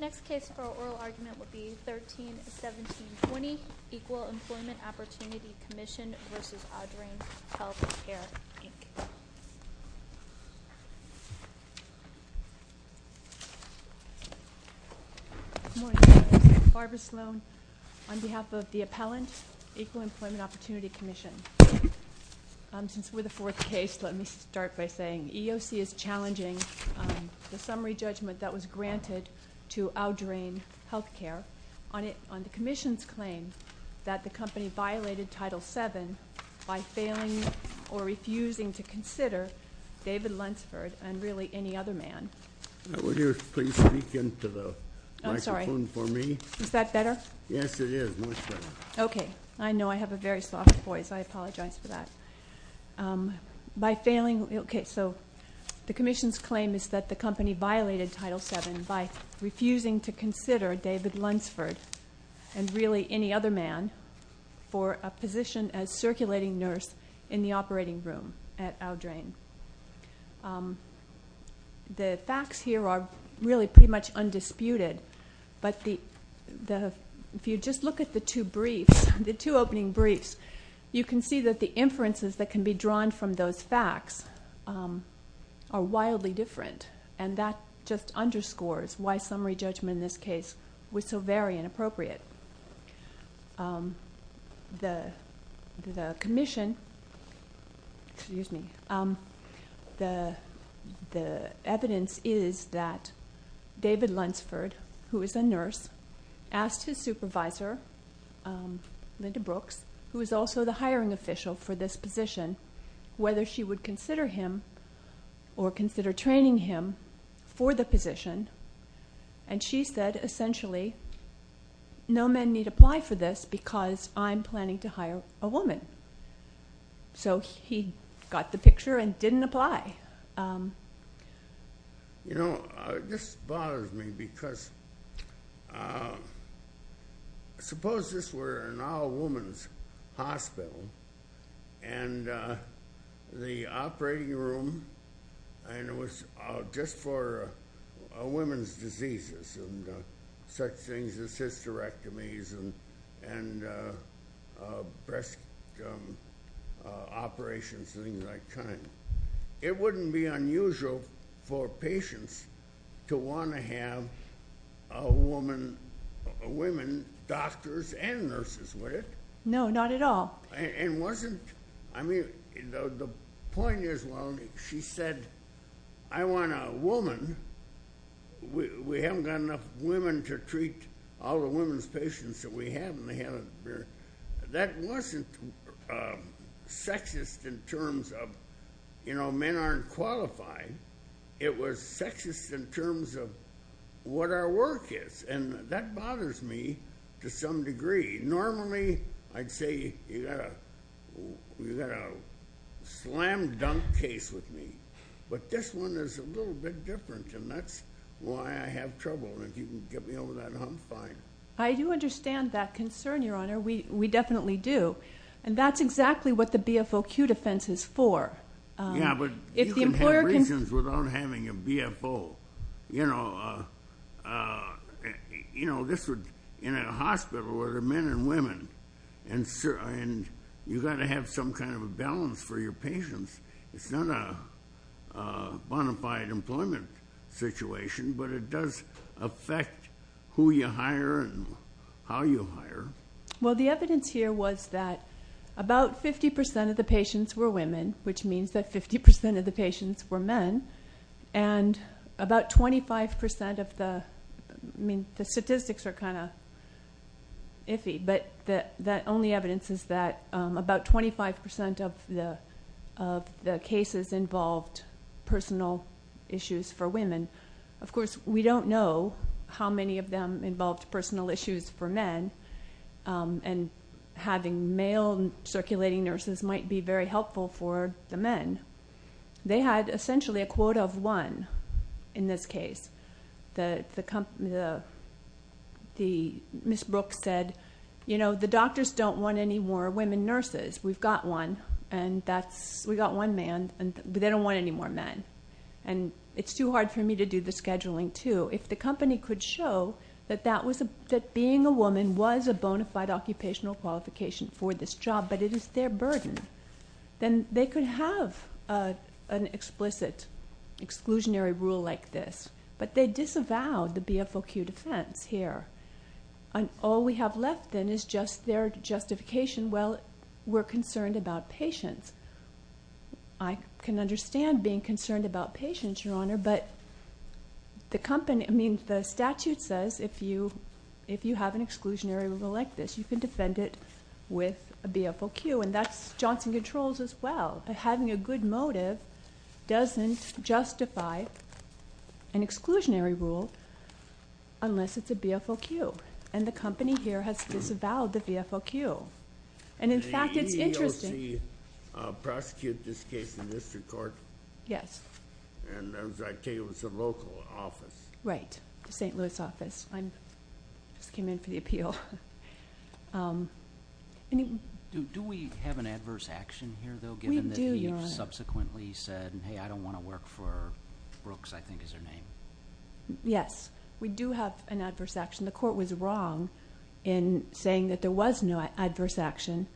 Next case for oral argument would be 13-1720, Equal Employment Opportunity Commission v. Audrain Health Care, Inc. Good morning. Barbara Sloan on behalf of the appellant, Equal Employment Opportunity Commission. Since we're the fourth case, let me start by saying EEOC is challenging the summary judgment that was granted to Audrain Health Care on the commission's claim that the company violated Title VII by failing or refusing to consider David Lunsford and really any other man. Would you please speak into the microphone for me? Is that better? Yes, it is much better. Okay, I know I have a very soft voice. I apologize for that. By failing, okay, so the commission's claim is that the company violated Title VII by refusing to consider David Lunsford and really any other man for a position as circulating nurse in the operating room at Audrain. The facts here are really pretty much undisputed, but if you just look at the two briefs, the two opening briefs, you can see that the inferences that can be drawn from those facts are wildly different, and that just underscores why summary judgment in this case was so very inappropriate. The evidence is that David Lunsford, who is a nurse, asked his supervisor, Linda Brooks, who is also the hiring official for this position, whether she would consider him or consider training him for the position, and she said, essentially, no men need apply for this because I'm planning to hire a woman. So he got the picture and didn't apply. You know, this bothers me because suppose this were an all-woman's hospital, and the operating room was just for women's diseases and such things as hysterectomies and breast operations and things of that kind. It wouldn't be unusual for patients to want to have women doctors and nurses, would it? No, not at all. And wasn't, I mean, the point is, well, she said, I want a woman. We haven't got enough women to treat all the women's patients that we have, and they haven't been. That wasn't sexist in terms of, you know, men aren't qualified. It was sexist in terms of what our work is, and that bothers me to some degree. Normally, I'd say you've got a slam-dunk case with me, but this one is a little bit different, and that's why I have trouble, and if you can get me over that, I'm fine. I do understand that concern, Your Honor. We definitely do, and that's exactly what the BFOQ defense is for. Yeah, but you can have reasons without having a BFO. You know, in a hospital, there are men and women, and you've got to have some kind of a balance for your patients. It's not a bona fide employment situation, but it does affect who you hire and how you hire. Well, the evidence here was that about 50% of the patients were women, which means that 50% of the patients were men, and about 25% of the statistics are kind of iffy, but the only evidence is that about 25% of the cases involved personal issues for women. Of course, we don't know how many of them involved personal issues for men, and having male circulating nurses might be very helpful for the men. They had essentially a quota of one in this case. Ms. Brooks said, you know, the doctors don't want any more women nurses. We've got one, and we've got one man, but they don't want any more men, and it's too hard for me to do the scheduling, too. If the company could show that being a woman was a bona fide occupational qualification for this job, but it is their burden, then they could have an explicit exclusionary rule like this, but they disavowed the BFOQ defense here, and all we have left then is just their justification. Well, we're concerned about patients. I can understand being concerned about patients, Your Honor, but the statute says if you have an exclusionary rule like this, you can defend it with a BFOQ, and that's Johnson Controls as well. Having a good motive doesn't justify an exclusionary rule unless it's a BFOQ, and the company here has disavowed the BFOQ, and in fact it's interesting. The EEOC prosecuted this case in district court? Yes. And as I tell you, it was the local office. Right, the St. Louis office. I just came in for the appeal. Do we have an adverse action here, though, given that he subsequently said, hey, I don't want to work for Brooks, I think is her name? Yes, we do have an adverse action. The court was wrong in saying that there was no adverse action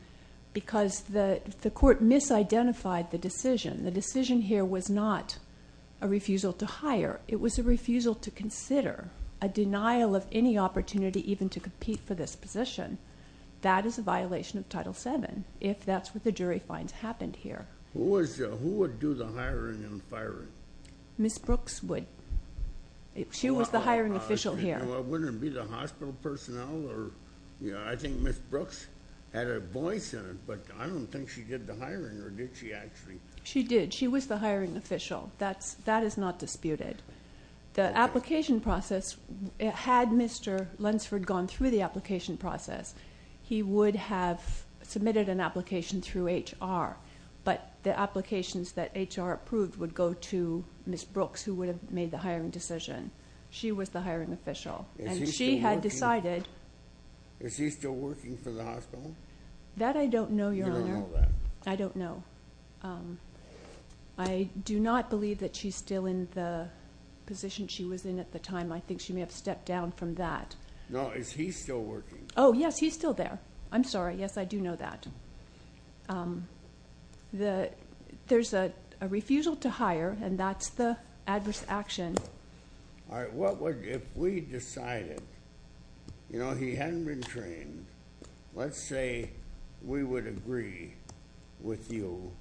because the court misidentified the decision. The decision here was not a refusal to hire. It was a refusal to consider a denial of any opportunity even to compete for this position. That is a violation of Title VII if that's what the jury finds happened here. Who would do the hiring and firing? Ms. Brooks would. She was the hiring official here. Wouldn't it be the hospital personnel? I think Ms. Brooks had a voice in it, but I don't think she did the hiring, or did she actually? She did. She was the hiring official. That is not disputed. The application process, had Mr. Lunsford gone through the application process, he would have submitted an application through HR, but the applications that HR approved would go to Ms. Brooks, who would have made the hiring decision. She was the hiring official, and she had decided. Is he still working for the hospital? That I don't know, Your Honor. I don't know. I do not believe that she's still in the position she was in at the time. I think she may have stepped down from that. No, is he still working? Oh, yes, he's still there. I'm sorry. Yes, I do know that. There's a refusal to hire, and that's the adverse action. All right, if we decided, you know, he hadn't been trained, let's say we would agree with you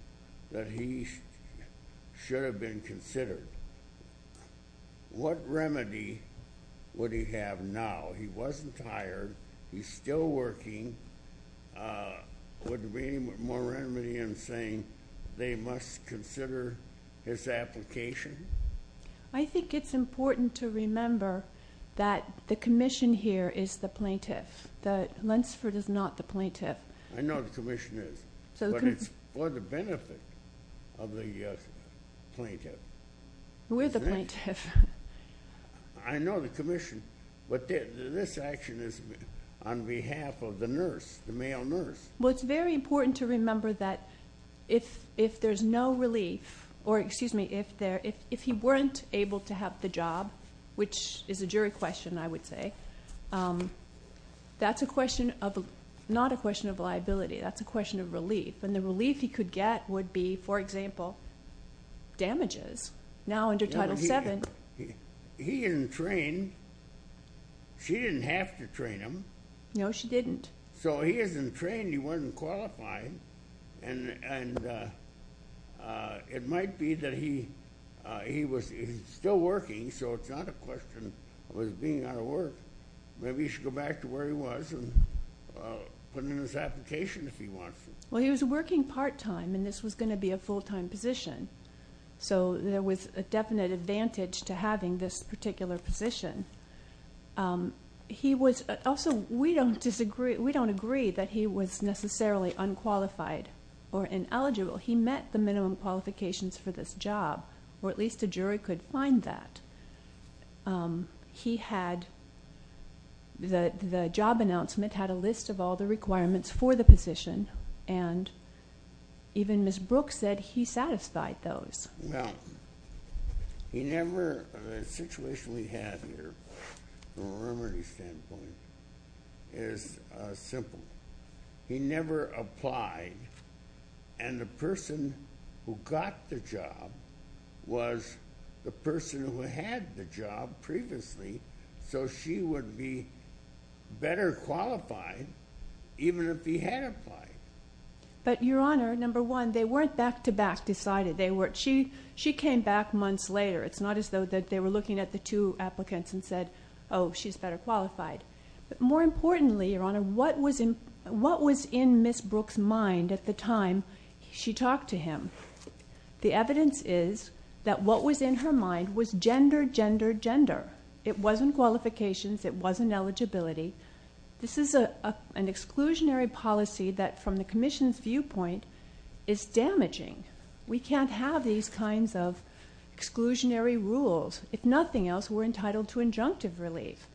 that he should have been considered, what remedy would he have now? He wasn't hired. He's still working. Would there be any more remedy in saying they must consider his application? I think it's important to remember that the commission here is the plaintiff. Lunsford is not the plaintiff. I know the commission is, but it's for the benefit of the plaintiff. We're the plaintiff. I know the commission, but this action is on behalf of the nurse, the male nurse. Well, it's very important to remember that if there's no relief, or, excuse me, if he weren't able to have the job, which is a jury question, I would say, that's a question of not a question of liability. That's a question of relief. And the relief he could get would be, for example, damages. Now under Title VII. He isn't trained. She didn't have to train him. No, she didn't. So he isn't trained. He wasn't qualified. And it might be that he was still working, so it's not a question of being out of work. Maybe he should go back to where he was and put in his application if he wants to. Well, he was working part-time, and this was going to be a full-time position. So there was a definite advantage to having this particular position. Also, we don't agree that he was necessarily unqualified or ineligible. He met the minimum qualifications for this job, or at least a jury could find that. He had the job announcement, had a list of all the requirements for the position, and even Ms. Brooks said he satisfied those. Well, the situation we have here from a remedy standpoint is simple. He never applied, and the person who got the job was the person who had the job previously, so she would be better qualified even if he had applied. But, Your Honor, number one, they weren't back-to-back decided. She came back months later. It's not as though that they were looking at the two applicants and said, oh, she's better qualified. But more importantly, Your Honor, what was in Ms. Brooks' mind at the time she talked to him? The evidence is that what was in her mind was gender, gender, gender. It wasn't qualifications. It wasn't eligibility. This is an exclusionary policy that, from the Commission's viewpoint, is damaging. We can't have these kinds of exclusionary rules. If nothing else, we're entitled to injunctive relief.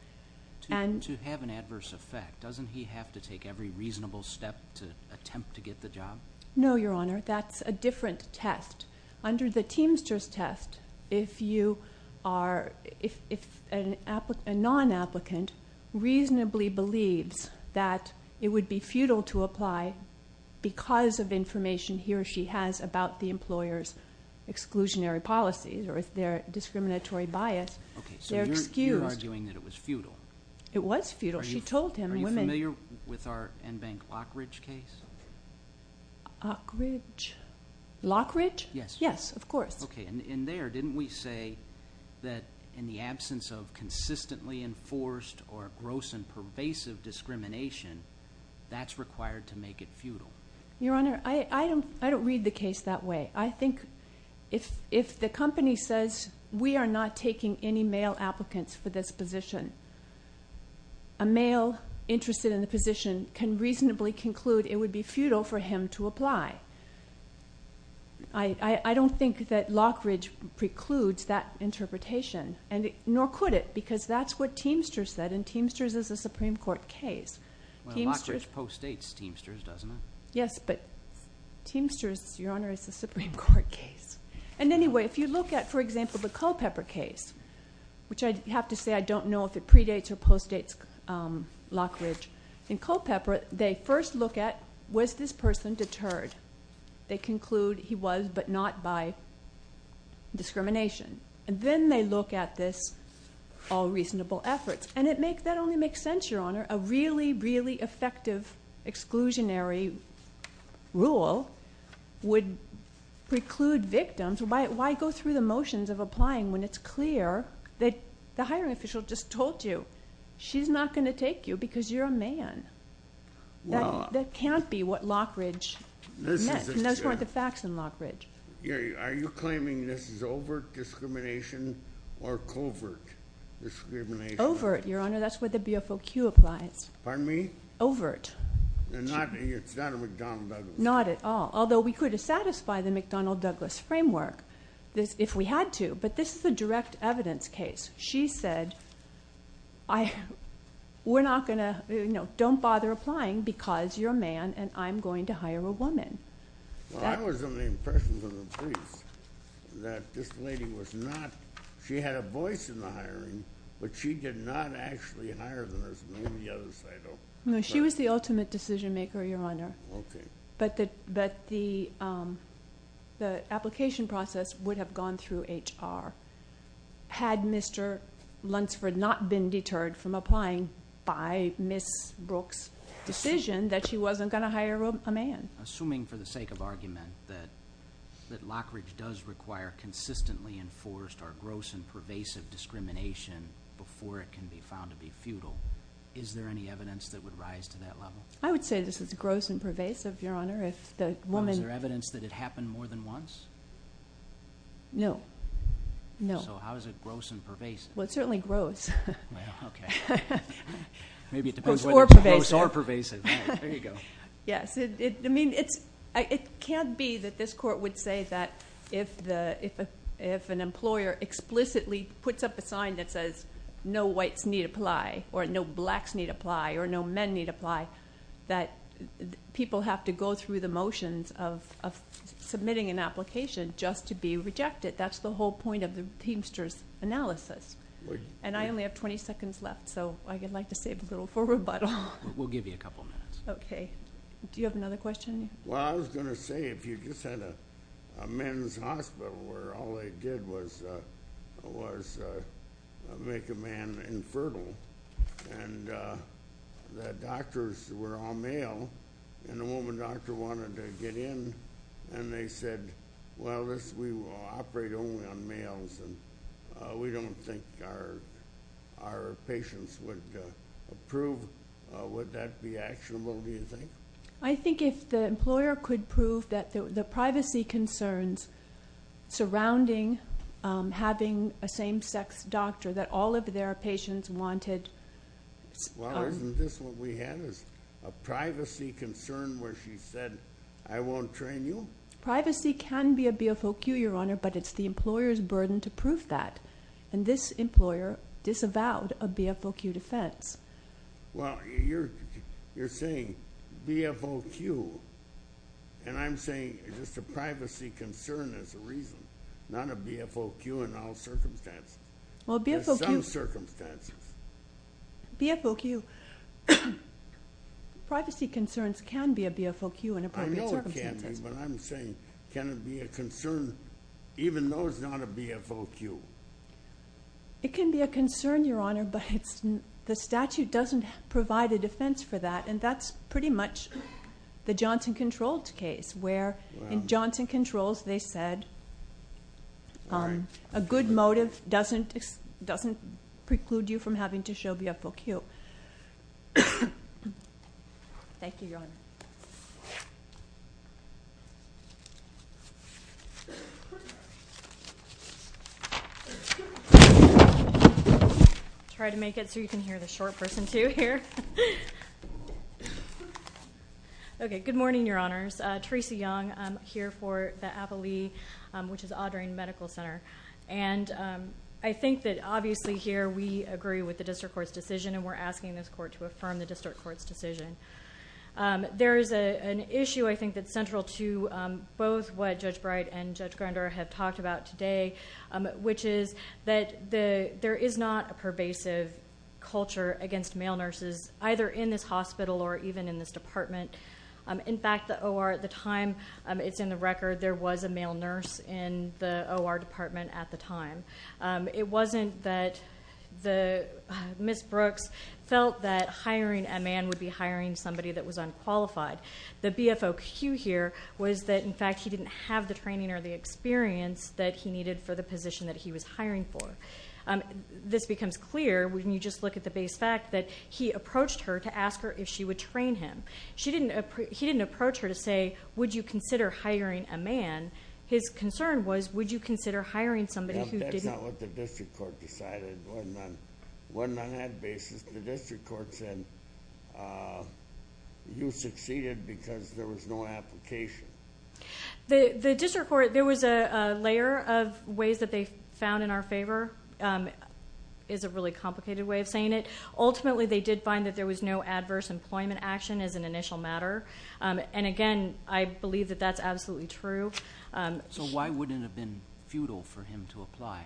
To have an adverse effect, doesn't he have to take every reasonable step to attempt to get the job? No, Your Honor. That's a different test. Under the Teamster's test, if a non-applicant reasonably believes that it would be futile to apply because of information he or she has about the employer's exclusionary policies or their discriminatory bias, they're excused. Okay, so you're arguing that it was futile. It was futile. She told him. Are you familiar with our Enbank Lockridge case? Lockridge? Lockridge? Yes. Yes, of course. Okay. And there, didn't we say that in the absence of consistently enforced or gross and pervasive discrimination, that's required to make it futile? Your Honor, I don't read the case that way. I think if the company says, we are not taking any male applicants for this position, a male interested in the position can reasonably conclude it would be futile for him to apply. I don't think that Lockridge precludes that interpretation, nor could it, because that's what Teamster said, and Teamster's is a Supreme Court case. Well, Lockridge postdates Teamster's, doesn't it? Yes, but Teamster's, Your Honor, is a Supreme Court case. And anyway, if you look at, for example, the Culpepper case, which I have to say I don't know if it predates or postdates Lockridge and Culpepper, they first look at was this person deterred. They conclude he was, but not by discrimination. And then they look at this all reasonable efforts. And that only makes sense, Your Honor. A really, really effective exclusionary rule would preclude victims. Why go through the motions of applying when it's clear that the hiring official just told you she's not going to take you because you're a man? That can't be what Lockridge meant, and those weren't the facts in Lockridge. Are you claiming this is overt discrimination or covert discrimination? Overt, Your Honor. That's what the BFOQ applies. Pardon me? Overt. It's not a McDonnell-Douglas case? Not at all, although we could satisfy the McDonnell-Douglas framework if we had to. But this is a direct evidence case. She said we're not going to, you know, don't bother applying because you're a man and I'm going to hire a woman. Well, I was under the impression from the police that this lady was not, she had a voice in the hiring, but she did not actually hire this woman. She was the ultimate decision maker, Your Honor. Okay. But the application process would have gone through HR had Mr. Lunsford not been deterred from applying by Ms. Brooks' decision that she wasn't going to hire a man. Assuming for the sake of argument that Lockridge does require consistently enforced or gross and pervasive discrimination before it can be found to be futile, is there any evidence that would rise to that level? I would say this is gross and pervasive, Your Honor. Is there evidence that it happened more than once? No. So how is it gross and pervasive? Well, it's certainly gross. Okay. Or pervasive. Gross or pervasive. There you go. Yes. I mean, it can't be that this court would say that if an employer explicitly puts up a sign that says no whites need apply or no blacks need apply or no men need apply, that people have to go through the motions of submitting an application just to be rejected. That's the whole point of the teamster's analysis. And I only have 20 seconds left, so I'd like to save a little for rebuttal. We'll give you a couple minutes. Okay. Do you have another question? Well, I was going to say if you just had a men's hospital where all they did was make a man infertile and the doctors were all male and the woman doctor wanted to get in and they said, well, we will operate only on males and we don't think our patients would approve, would that be actionable, do you think? I think if the employer could prove that the privacy concerns surrounding having a same-sex doctor that all of their patients wanted. Well, isn't this what we have, is a privacy concern where she said, I won't train you? Privacy can be a BFOQ, Your Honor, but it's the employer's burden to prove that. And this employer disavowed a BFOQ defense. Well, you're saying BFOQ, and I'm saying just a privacy concern as a reason, not a BFOQ in all circumstances. Well, BFOQ. In some circumstances. BFOQ. Privacy concerns can be a BFOQ in appropriate circumstances. I know it can be, but I'm saying, can it be a concern even though it's not a BFOQ? It can be a concern, Your Honor, but the statute doesn't provide a defense for that and that's pretty much the Johnson Controlled case where in Johnson Controls they said a good motive doesn't preclude you from having to show BFOQ. Thank you, Your Honor. I'll try to make it so you can hear the short person too here. Okay. Good morning, Your Honors. Tracy Young, I'm here for the Apo Lee, which is Audrain Medical Center. And I think that obviously here we agree with the district court's decision and we're asking this court to affirm the district court's decision. There is an issue I think that's central to both what Judge Bright and Judge Grandeur have talked about today, which is that there is not a pervasive culture against male nurses either in this hospital or even in this department. In fact, the OR at the time, it's in the record, there was a male nurse in the OR department at the time. It wasn't that Ms. Brooks felt that hiring a man would be hiring somebody that was unqualified. The BFOQ here was that, in fact, he didn't have the training or the experience that he needed for the position that he was hiring for. This becomes clear when you just look at the base fact that he approached her to ask her if she would train him. He didn't approach her to say, would you consider hiring a man? His concern was, would you consider hiring somebody who didn't... That's not what the district court decided. It wasn't on that basis. The district court said, you succeeded because there was no application. The district court, there was a layer of ways that they found in our favor. It's a really complicated way of saying it. Ultimately, they did find that there was no adverse employment action as an initial matter. Again, I believe that that's absolutely true. Why wouldn't it have been futile for him to apply?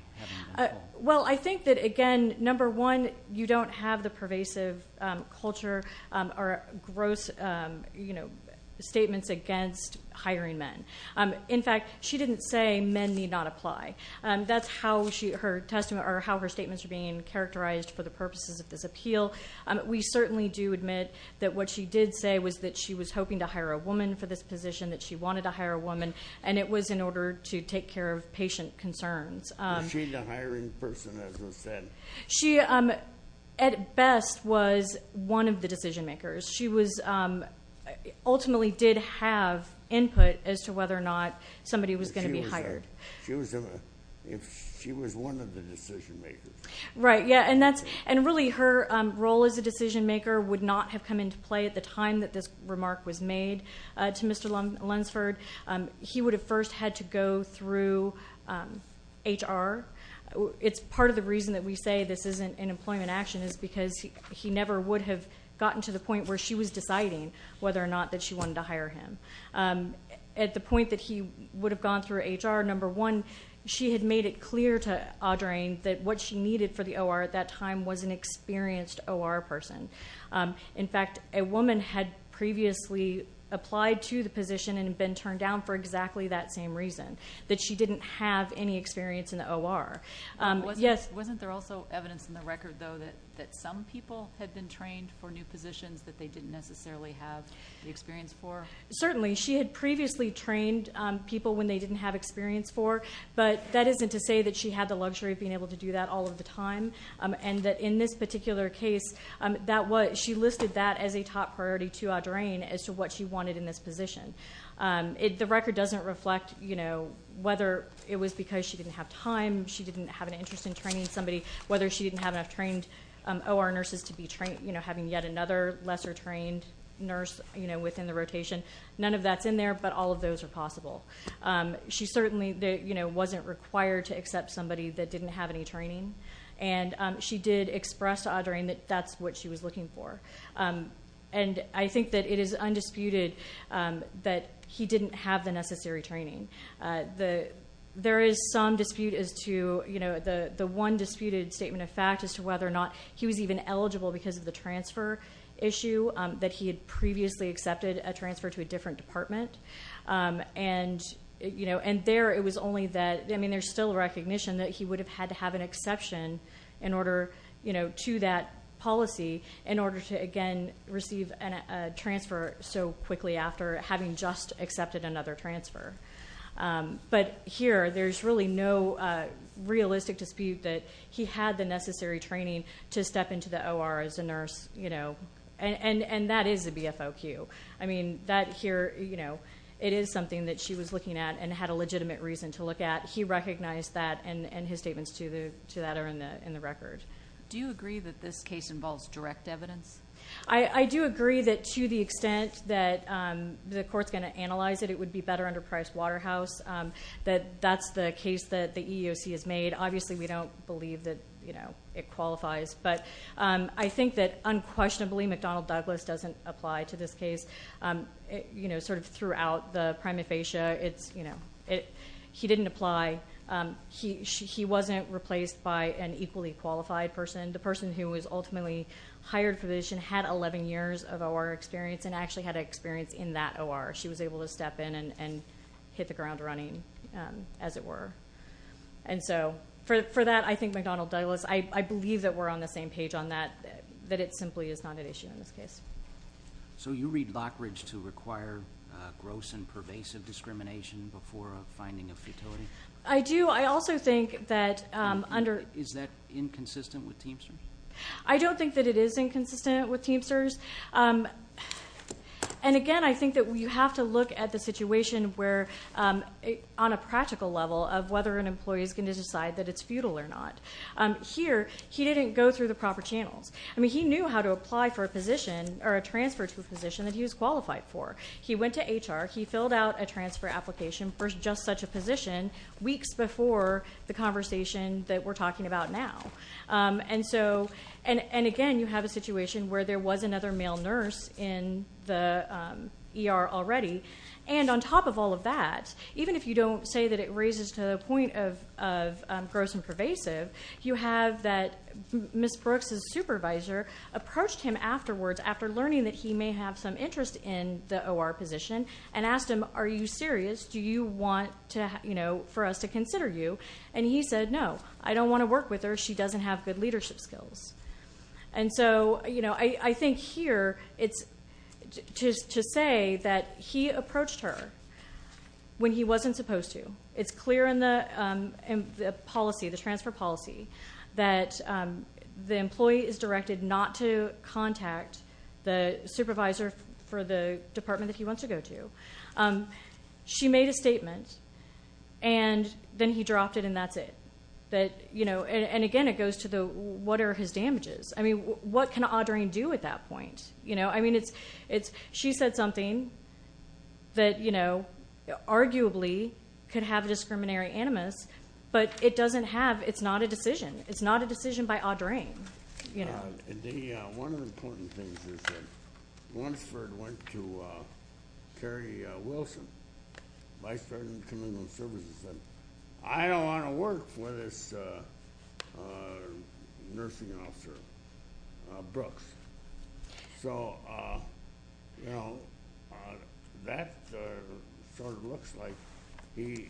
I think that, again, number one, you don't have the pervasive culture or gross statements against hiring men. In fact, she didn't say men need not apply. That's how her statements are being characterized for the purposes of this appeal. We certainly do admit that what she did say was that she was hoping to hire a woman for this position, that she wanted to hire a woman, and it was in order to take care of patient concerns. Was she the hiring person, as was said? She, at best, was one of the decision-makers. She ultimately did have input as to whether or not somebody was going to be hired. She was one of the decision-makers. Right. Really, her role as a decision-maker would not have come into play at the time that this remark was made to Mr. Lunsford. He would have first had to go through HR. It's part of the reason that we say this isn't an employment action is because he never would have gotten to the point where she was deciding whether or not that she wanted to hire him. At the point that he would have gone through HR, number one, she had made it clear to Audrain that what she needed for the OR at that time was an experienced OR person. In fact, a woman had previously applied to the position and been turned down for exactly that same reason, that she didn't have any experience in the OR. Wasn't there also evidence in the record, though, that some people had been trained for new positions that they didn't necessarily have the experience for? Certainly. She had previously trained people when they didn't have experience for, but that isn't to say that she had the luxury of being able to do that all of the time, and that in this particular case, she listed that as a top priority to Audrain as to what she wanted in this position. The record doesn't reflect whether it was because she didn't have time, she didn't have an interest in training somebody, whether she didn't have enough trained OR nurses to be trained, having yet another lesser-trained nurse within the rotation. None of that's in there, but all of those are possible. She certainly wasn't required to accept somebody that didn't have any training, and she did express to Audrain that that's what she was looking for. I think that it is undisputed that he didn't have the necessary training. There is some dispute as to the one disputed statement of fact as to whether or not he was even eligible because of the transfer issue, that he had previously accepted a transfer to a different department. And there it was only that there's still recognition that he would have had to have an exception to that policy in order to, again, receive a transfer so quickly after having just accepted another transfer. But here there's really no realistic dispute that he had the necessary training to step into the OR as a nurse, and that is a BFOQ. I mean, that here, you know, it is something that she was looking at and had a legitimate reason to look at. He recognized that, and his statements to that are in the record. Do you agree that this case involves direct evidence? I do agree that to the extent that the court's going to analyze it, it would be better under Price-Waterhouse, that that's the case that the EEOC has made. Obviously, we don't believe that it qualifies, but I think that unquestionably, McDonald-Douglas doesn't apply to this case. You know, sort of throughout the prima facie, he didn't apply. He wasn't replaced by an equally qualified person. The person who was ultimately hired for this had 11 years of OR experience and actually had experience in that OR. She was able to step in and hit the ground running, as it were. And so for that, I think McDonald-Douglas, I believe that we're on the same page on that, that it simply is not an issue in this case. So you read Lockridge to require gross and pervasive discrimination before a finding of futility? I do. I also think that under... Is that inconsistent with Teamster? I don't think that it is inconsistent with Teamster's. And again, I think that you have to look at the situation where, on a practical level, of whether an employee is going to decide that it's futile or not. Here, he didn't go through the proper channels. I mean, he knew how to apply for a position or a transfer to a position that he was qualified for. He went to HR, he filled out a transfer application for just such a position weeks before the conversation that we're talking about now. And again, you have a situation where there was another male nurse in the ER already. And on top of all of that, even if you don't say that it raises to the point of gross and pervasive, you have that Ms. Brooks's supervisor approached him afterwards, after learning that he may have some interest in the OR position, and asked him, Are you serious? Do you want for us to consider you? And he said, No, I don't want to work with her. She doesn't have good leadership skills. And so I think here, it's to say that he approached her when he wasn't supposed to. It's clear in the policy, the transfer policy, that the employee is directed not to contact the supervisor for the department that he wants to go to. She made a statement, and then he dropped it, and that's it. And again, it goes to the, What are his damages? I mean, what can Audrain do at that point? I mean, she said something that, you know, arguably could have discriminatory animus, but it doesn't have. It's not a decision. It's not a decision by Audrain. One of the important things is that once Ford went to Carrie Wilson, Vice President of Criminal Services, and said, I don't want to work with this nursing officer, Brooks. So, you know, that sort of looks like he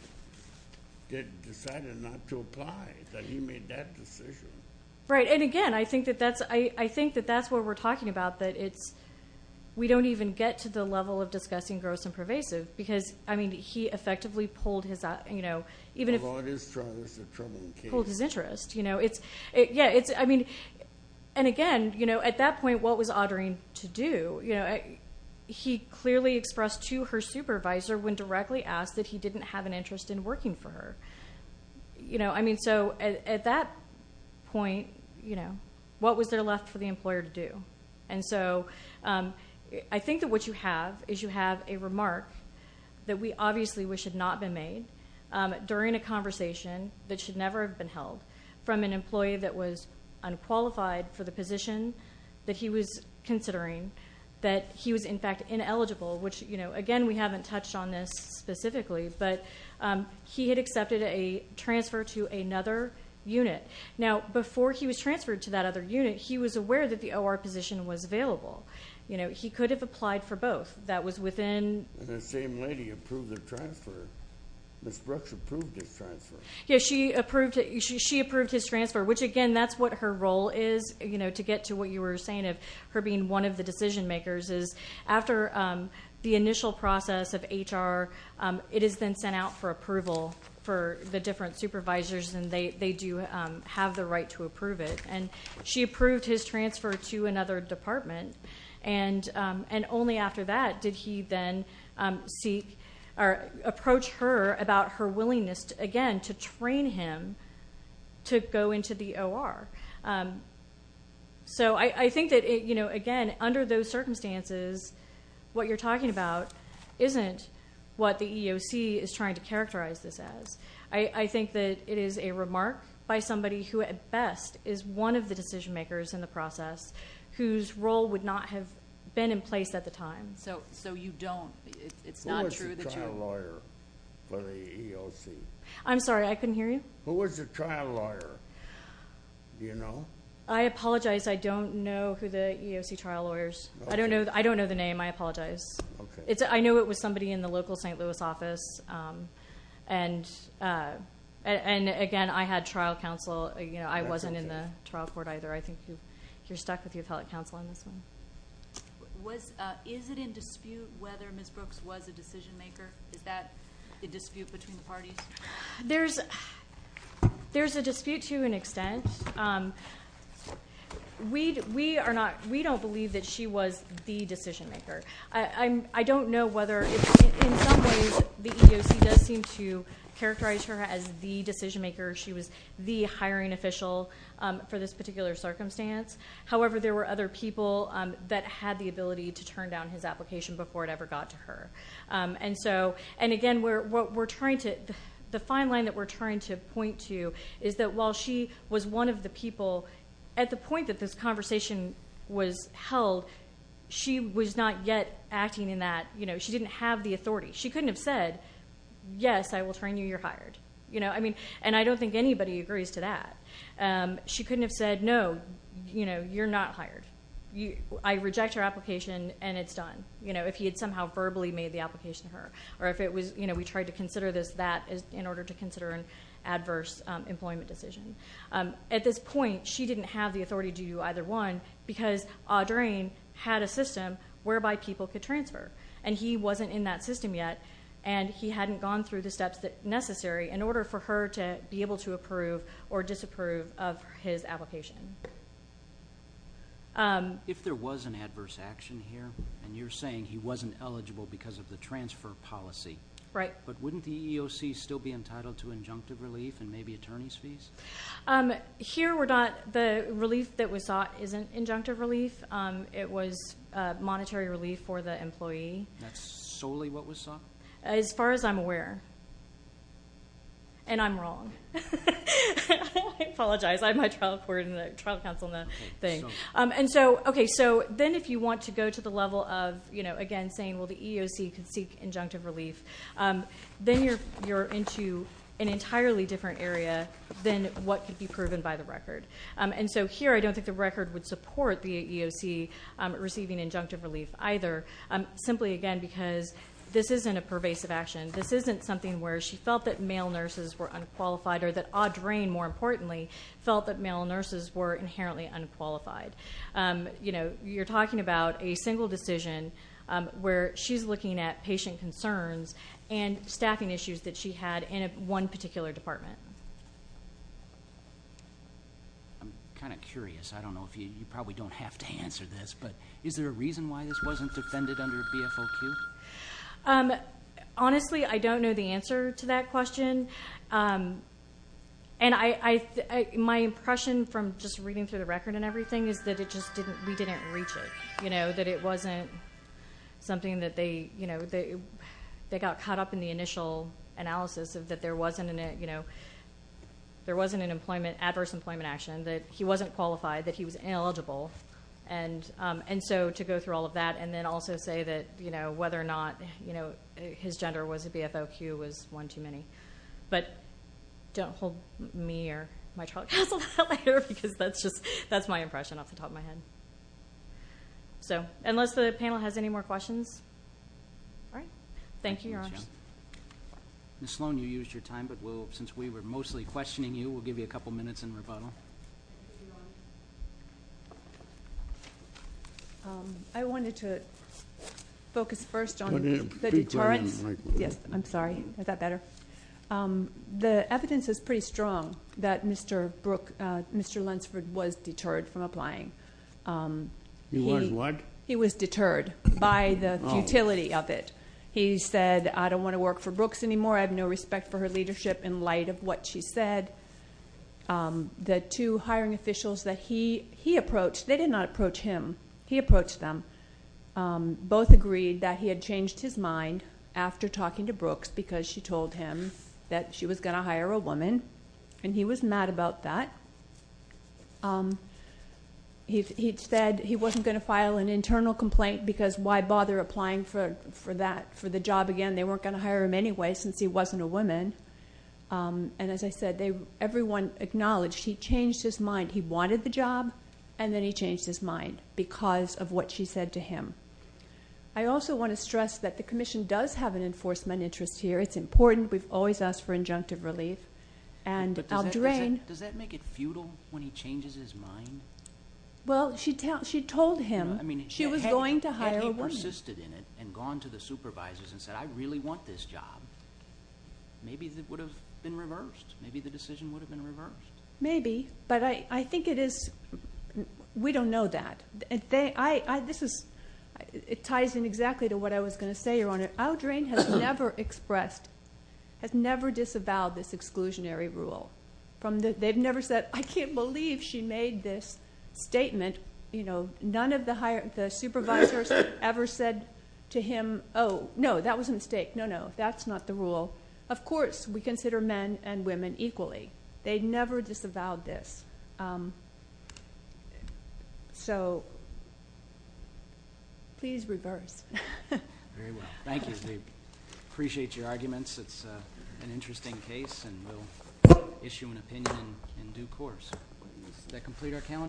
decided not to apply, that he made that decision. Right, and again, I think that that's what we're talking about, that we don't even get to the level of discussing gross and pervasive because, I mean, he effectively pulled his interest. You know, it's, yeah, it's, I mean, and again, you know, at that point, what was Audrain to do? You know, he clearly expressed to her supervisor when directly asked that he didn't have an interest in working for her. You know, I mean, so at that point, you know, what was there left for the employer to do? And so I think that what you have is you have a remark that we obviously wish had not been made during a conversation that should never have been held from an employee that was unqualified for the position that he was considering, that he was, in fact, ineligible, which, you know, again, we haven't touched on this specifically, but he had accepted a transfer to another unit. Now, before he was transferred to that other unit, he was aware that the OR position was available. You know, he could have applied for both. That was within. The same lady approved the transfer. Ms. Brooks approved his transfer. Yeah, she approved his transfer, which, again, that's what her role is, you know, to get to what you were saying of her being one of the decision makers is after the initial process of HR, it is then sent out for approval for the different supervisors, and they do have the right to approve it. And she approved his transfer to another department, and only after that did he then approach her about her willingness, again, to train him to go into the OR. So I think that, you know, again, under those circumstances, what you're talking about isn't what the EOC is trying to characterize this as. I think that it is a remark by somebody who, at best, is one of the decision makers in the process whose role would not have been in place at the time. So you don't. It's not true that you are. Who was the trial lawyer for the EOC? I'm sorry. I couldn't hear you. Who was the trial lawyer? Do you know? I apologize. I don't know who the EOC trial lawyer is. I don't know the name. I apologize. I know it was somebody in the local St. Louis office, and, again, I had trial counsel. I wasn't in the trial court either. I think you're stuck with the appellate counsel on this one. Is it in dispute whether Ms. Brooks was a decision maker? Is that a dispute between the parties? There's a dispute to an extent. We don't believe that she was the decision maker. I don't know whether, in some ways, the EOC does seem to characterize her as the decision maker. She was the hiring official for this particular circumstance. However, there were other people that had the ability to turn down his application before it ever got to her. And, again, the fine line that we're trying to point to is that while she was one of the people, at the point that this conversation was held, she was not yet acting in that. She didn't have the authority. She couldn't have said, yes, I will train you. You're hired. And I don't think anybody agrees to that. She couldn't have said, no, you're not hired. I reject your application, and it's done, if he had somehow verbally made the application to her or if we tried to consider this that in order to consider an adverse employment decision. At this point, she didn't have the authority to do either one because Audrain had a system whereby people could transfer, and he wasn't in that system yet, and he hadn't gone through the steps necessary in order for her to be able to approve or disapprove of his application. If there was an adverse action here, and you're saying he wasn't eligible because of the transfer policy, but wouldn't the EOC still be entitled to injunctive relief and maybe attorney's fees? Here we're not. The relief that was sought isn't injunctive relief. It was monetary relief for the employee. That's solely what was sought? As far as I'm aware. And I'm wrong. I apologize. I have my trial court and the trial counsel and the thing. Then if you want to go to the level of, again, saying, well, the EOC can seek injunctive relief, then you're into an entirely different area than what could be proven by the record. And so here I don't think the record would support the EOC receiving injunctive relief either, simply, again, because this isn't a pervasive action. This isn't something where she felt that male nurses were unqualified or that Audrain, more importantly, felt that male nurses were inherently unqualified. You're talking about a single decision where she's looking at patient concerns and staffing issues that she had in one particular department. I'm kind of curious. I don't know if you probably don't have to answer this, but is there a reason why this wasn't defended under BFOQ? Honestly, I don't know the answer to that question. And my impression from just reading through the record and everything is that we didn't reach it, you know, that it wasn't something that they got caught up in the initial analysis of that there wasn't an adverse employment action, that he wasn't qualified, that he was ineligible. And so to go through all of that and then also say that, you know, whether or not his gender was a BFOQ was one too many. But don't hold me or my child to account for that later because that's my impression off the top of my head. So unless the panel has any more questions, all right. Thank you, Your Honor. Ms. Sloan, you used your time, but since we were mostly questioning you, we'll give you a couple minutes in rebuttal. I wanted to focus first on the deterrence. Yes, I'm sorry. Is that better? The evidence is pretty strong that Mr. Lunsford was deterred from applying. He was what? He was deterred by the futility of it. He said, I don't want to work for Brooks anymore. I have no respect for her leadership in light of what she said. The two hiring officials that he approached, they did not approach him. He approached them. Both agreed that he had changed his mind after talking to Brooks because she told him that she was going to hire a woman, and he was mad about that. He said he wasn't going to file an internal complaint because why bother applying for the job again? They weren't going to hire him anyway since he wasn't a woman. And as I said, everyone acknowledged he changed his mind. He wanted the job, and then he changed his mind because of what she said to him. I also want to stress that the Commission does have an enforcement interest here. It's important. We've always asked for injunctive relief. But does that make it futile when he changes his mind? Well, she told him she was going to hire a woman. If he persisted in it and gone to the supervisors and said, I really want this job, maybe it would have been reversed. Maybe the decision would have been reversed. Maybe, but I think it is we don't know that. Audrain has never disavowed this exclusionary rule. They've never said, I can't believe she made this statement. None of the supervisors ever said to him, oh, no, that was a mistake. No, no, that's not the rule. Of course we consider men and women equally. They never disavowed this. So please reverse. Very well. Thank you. We appreciate your arguments. It's an interesting case, and we'll issue an opinion in due course. Does that complete our calendar?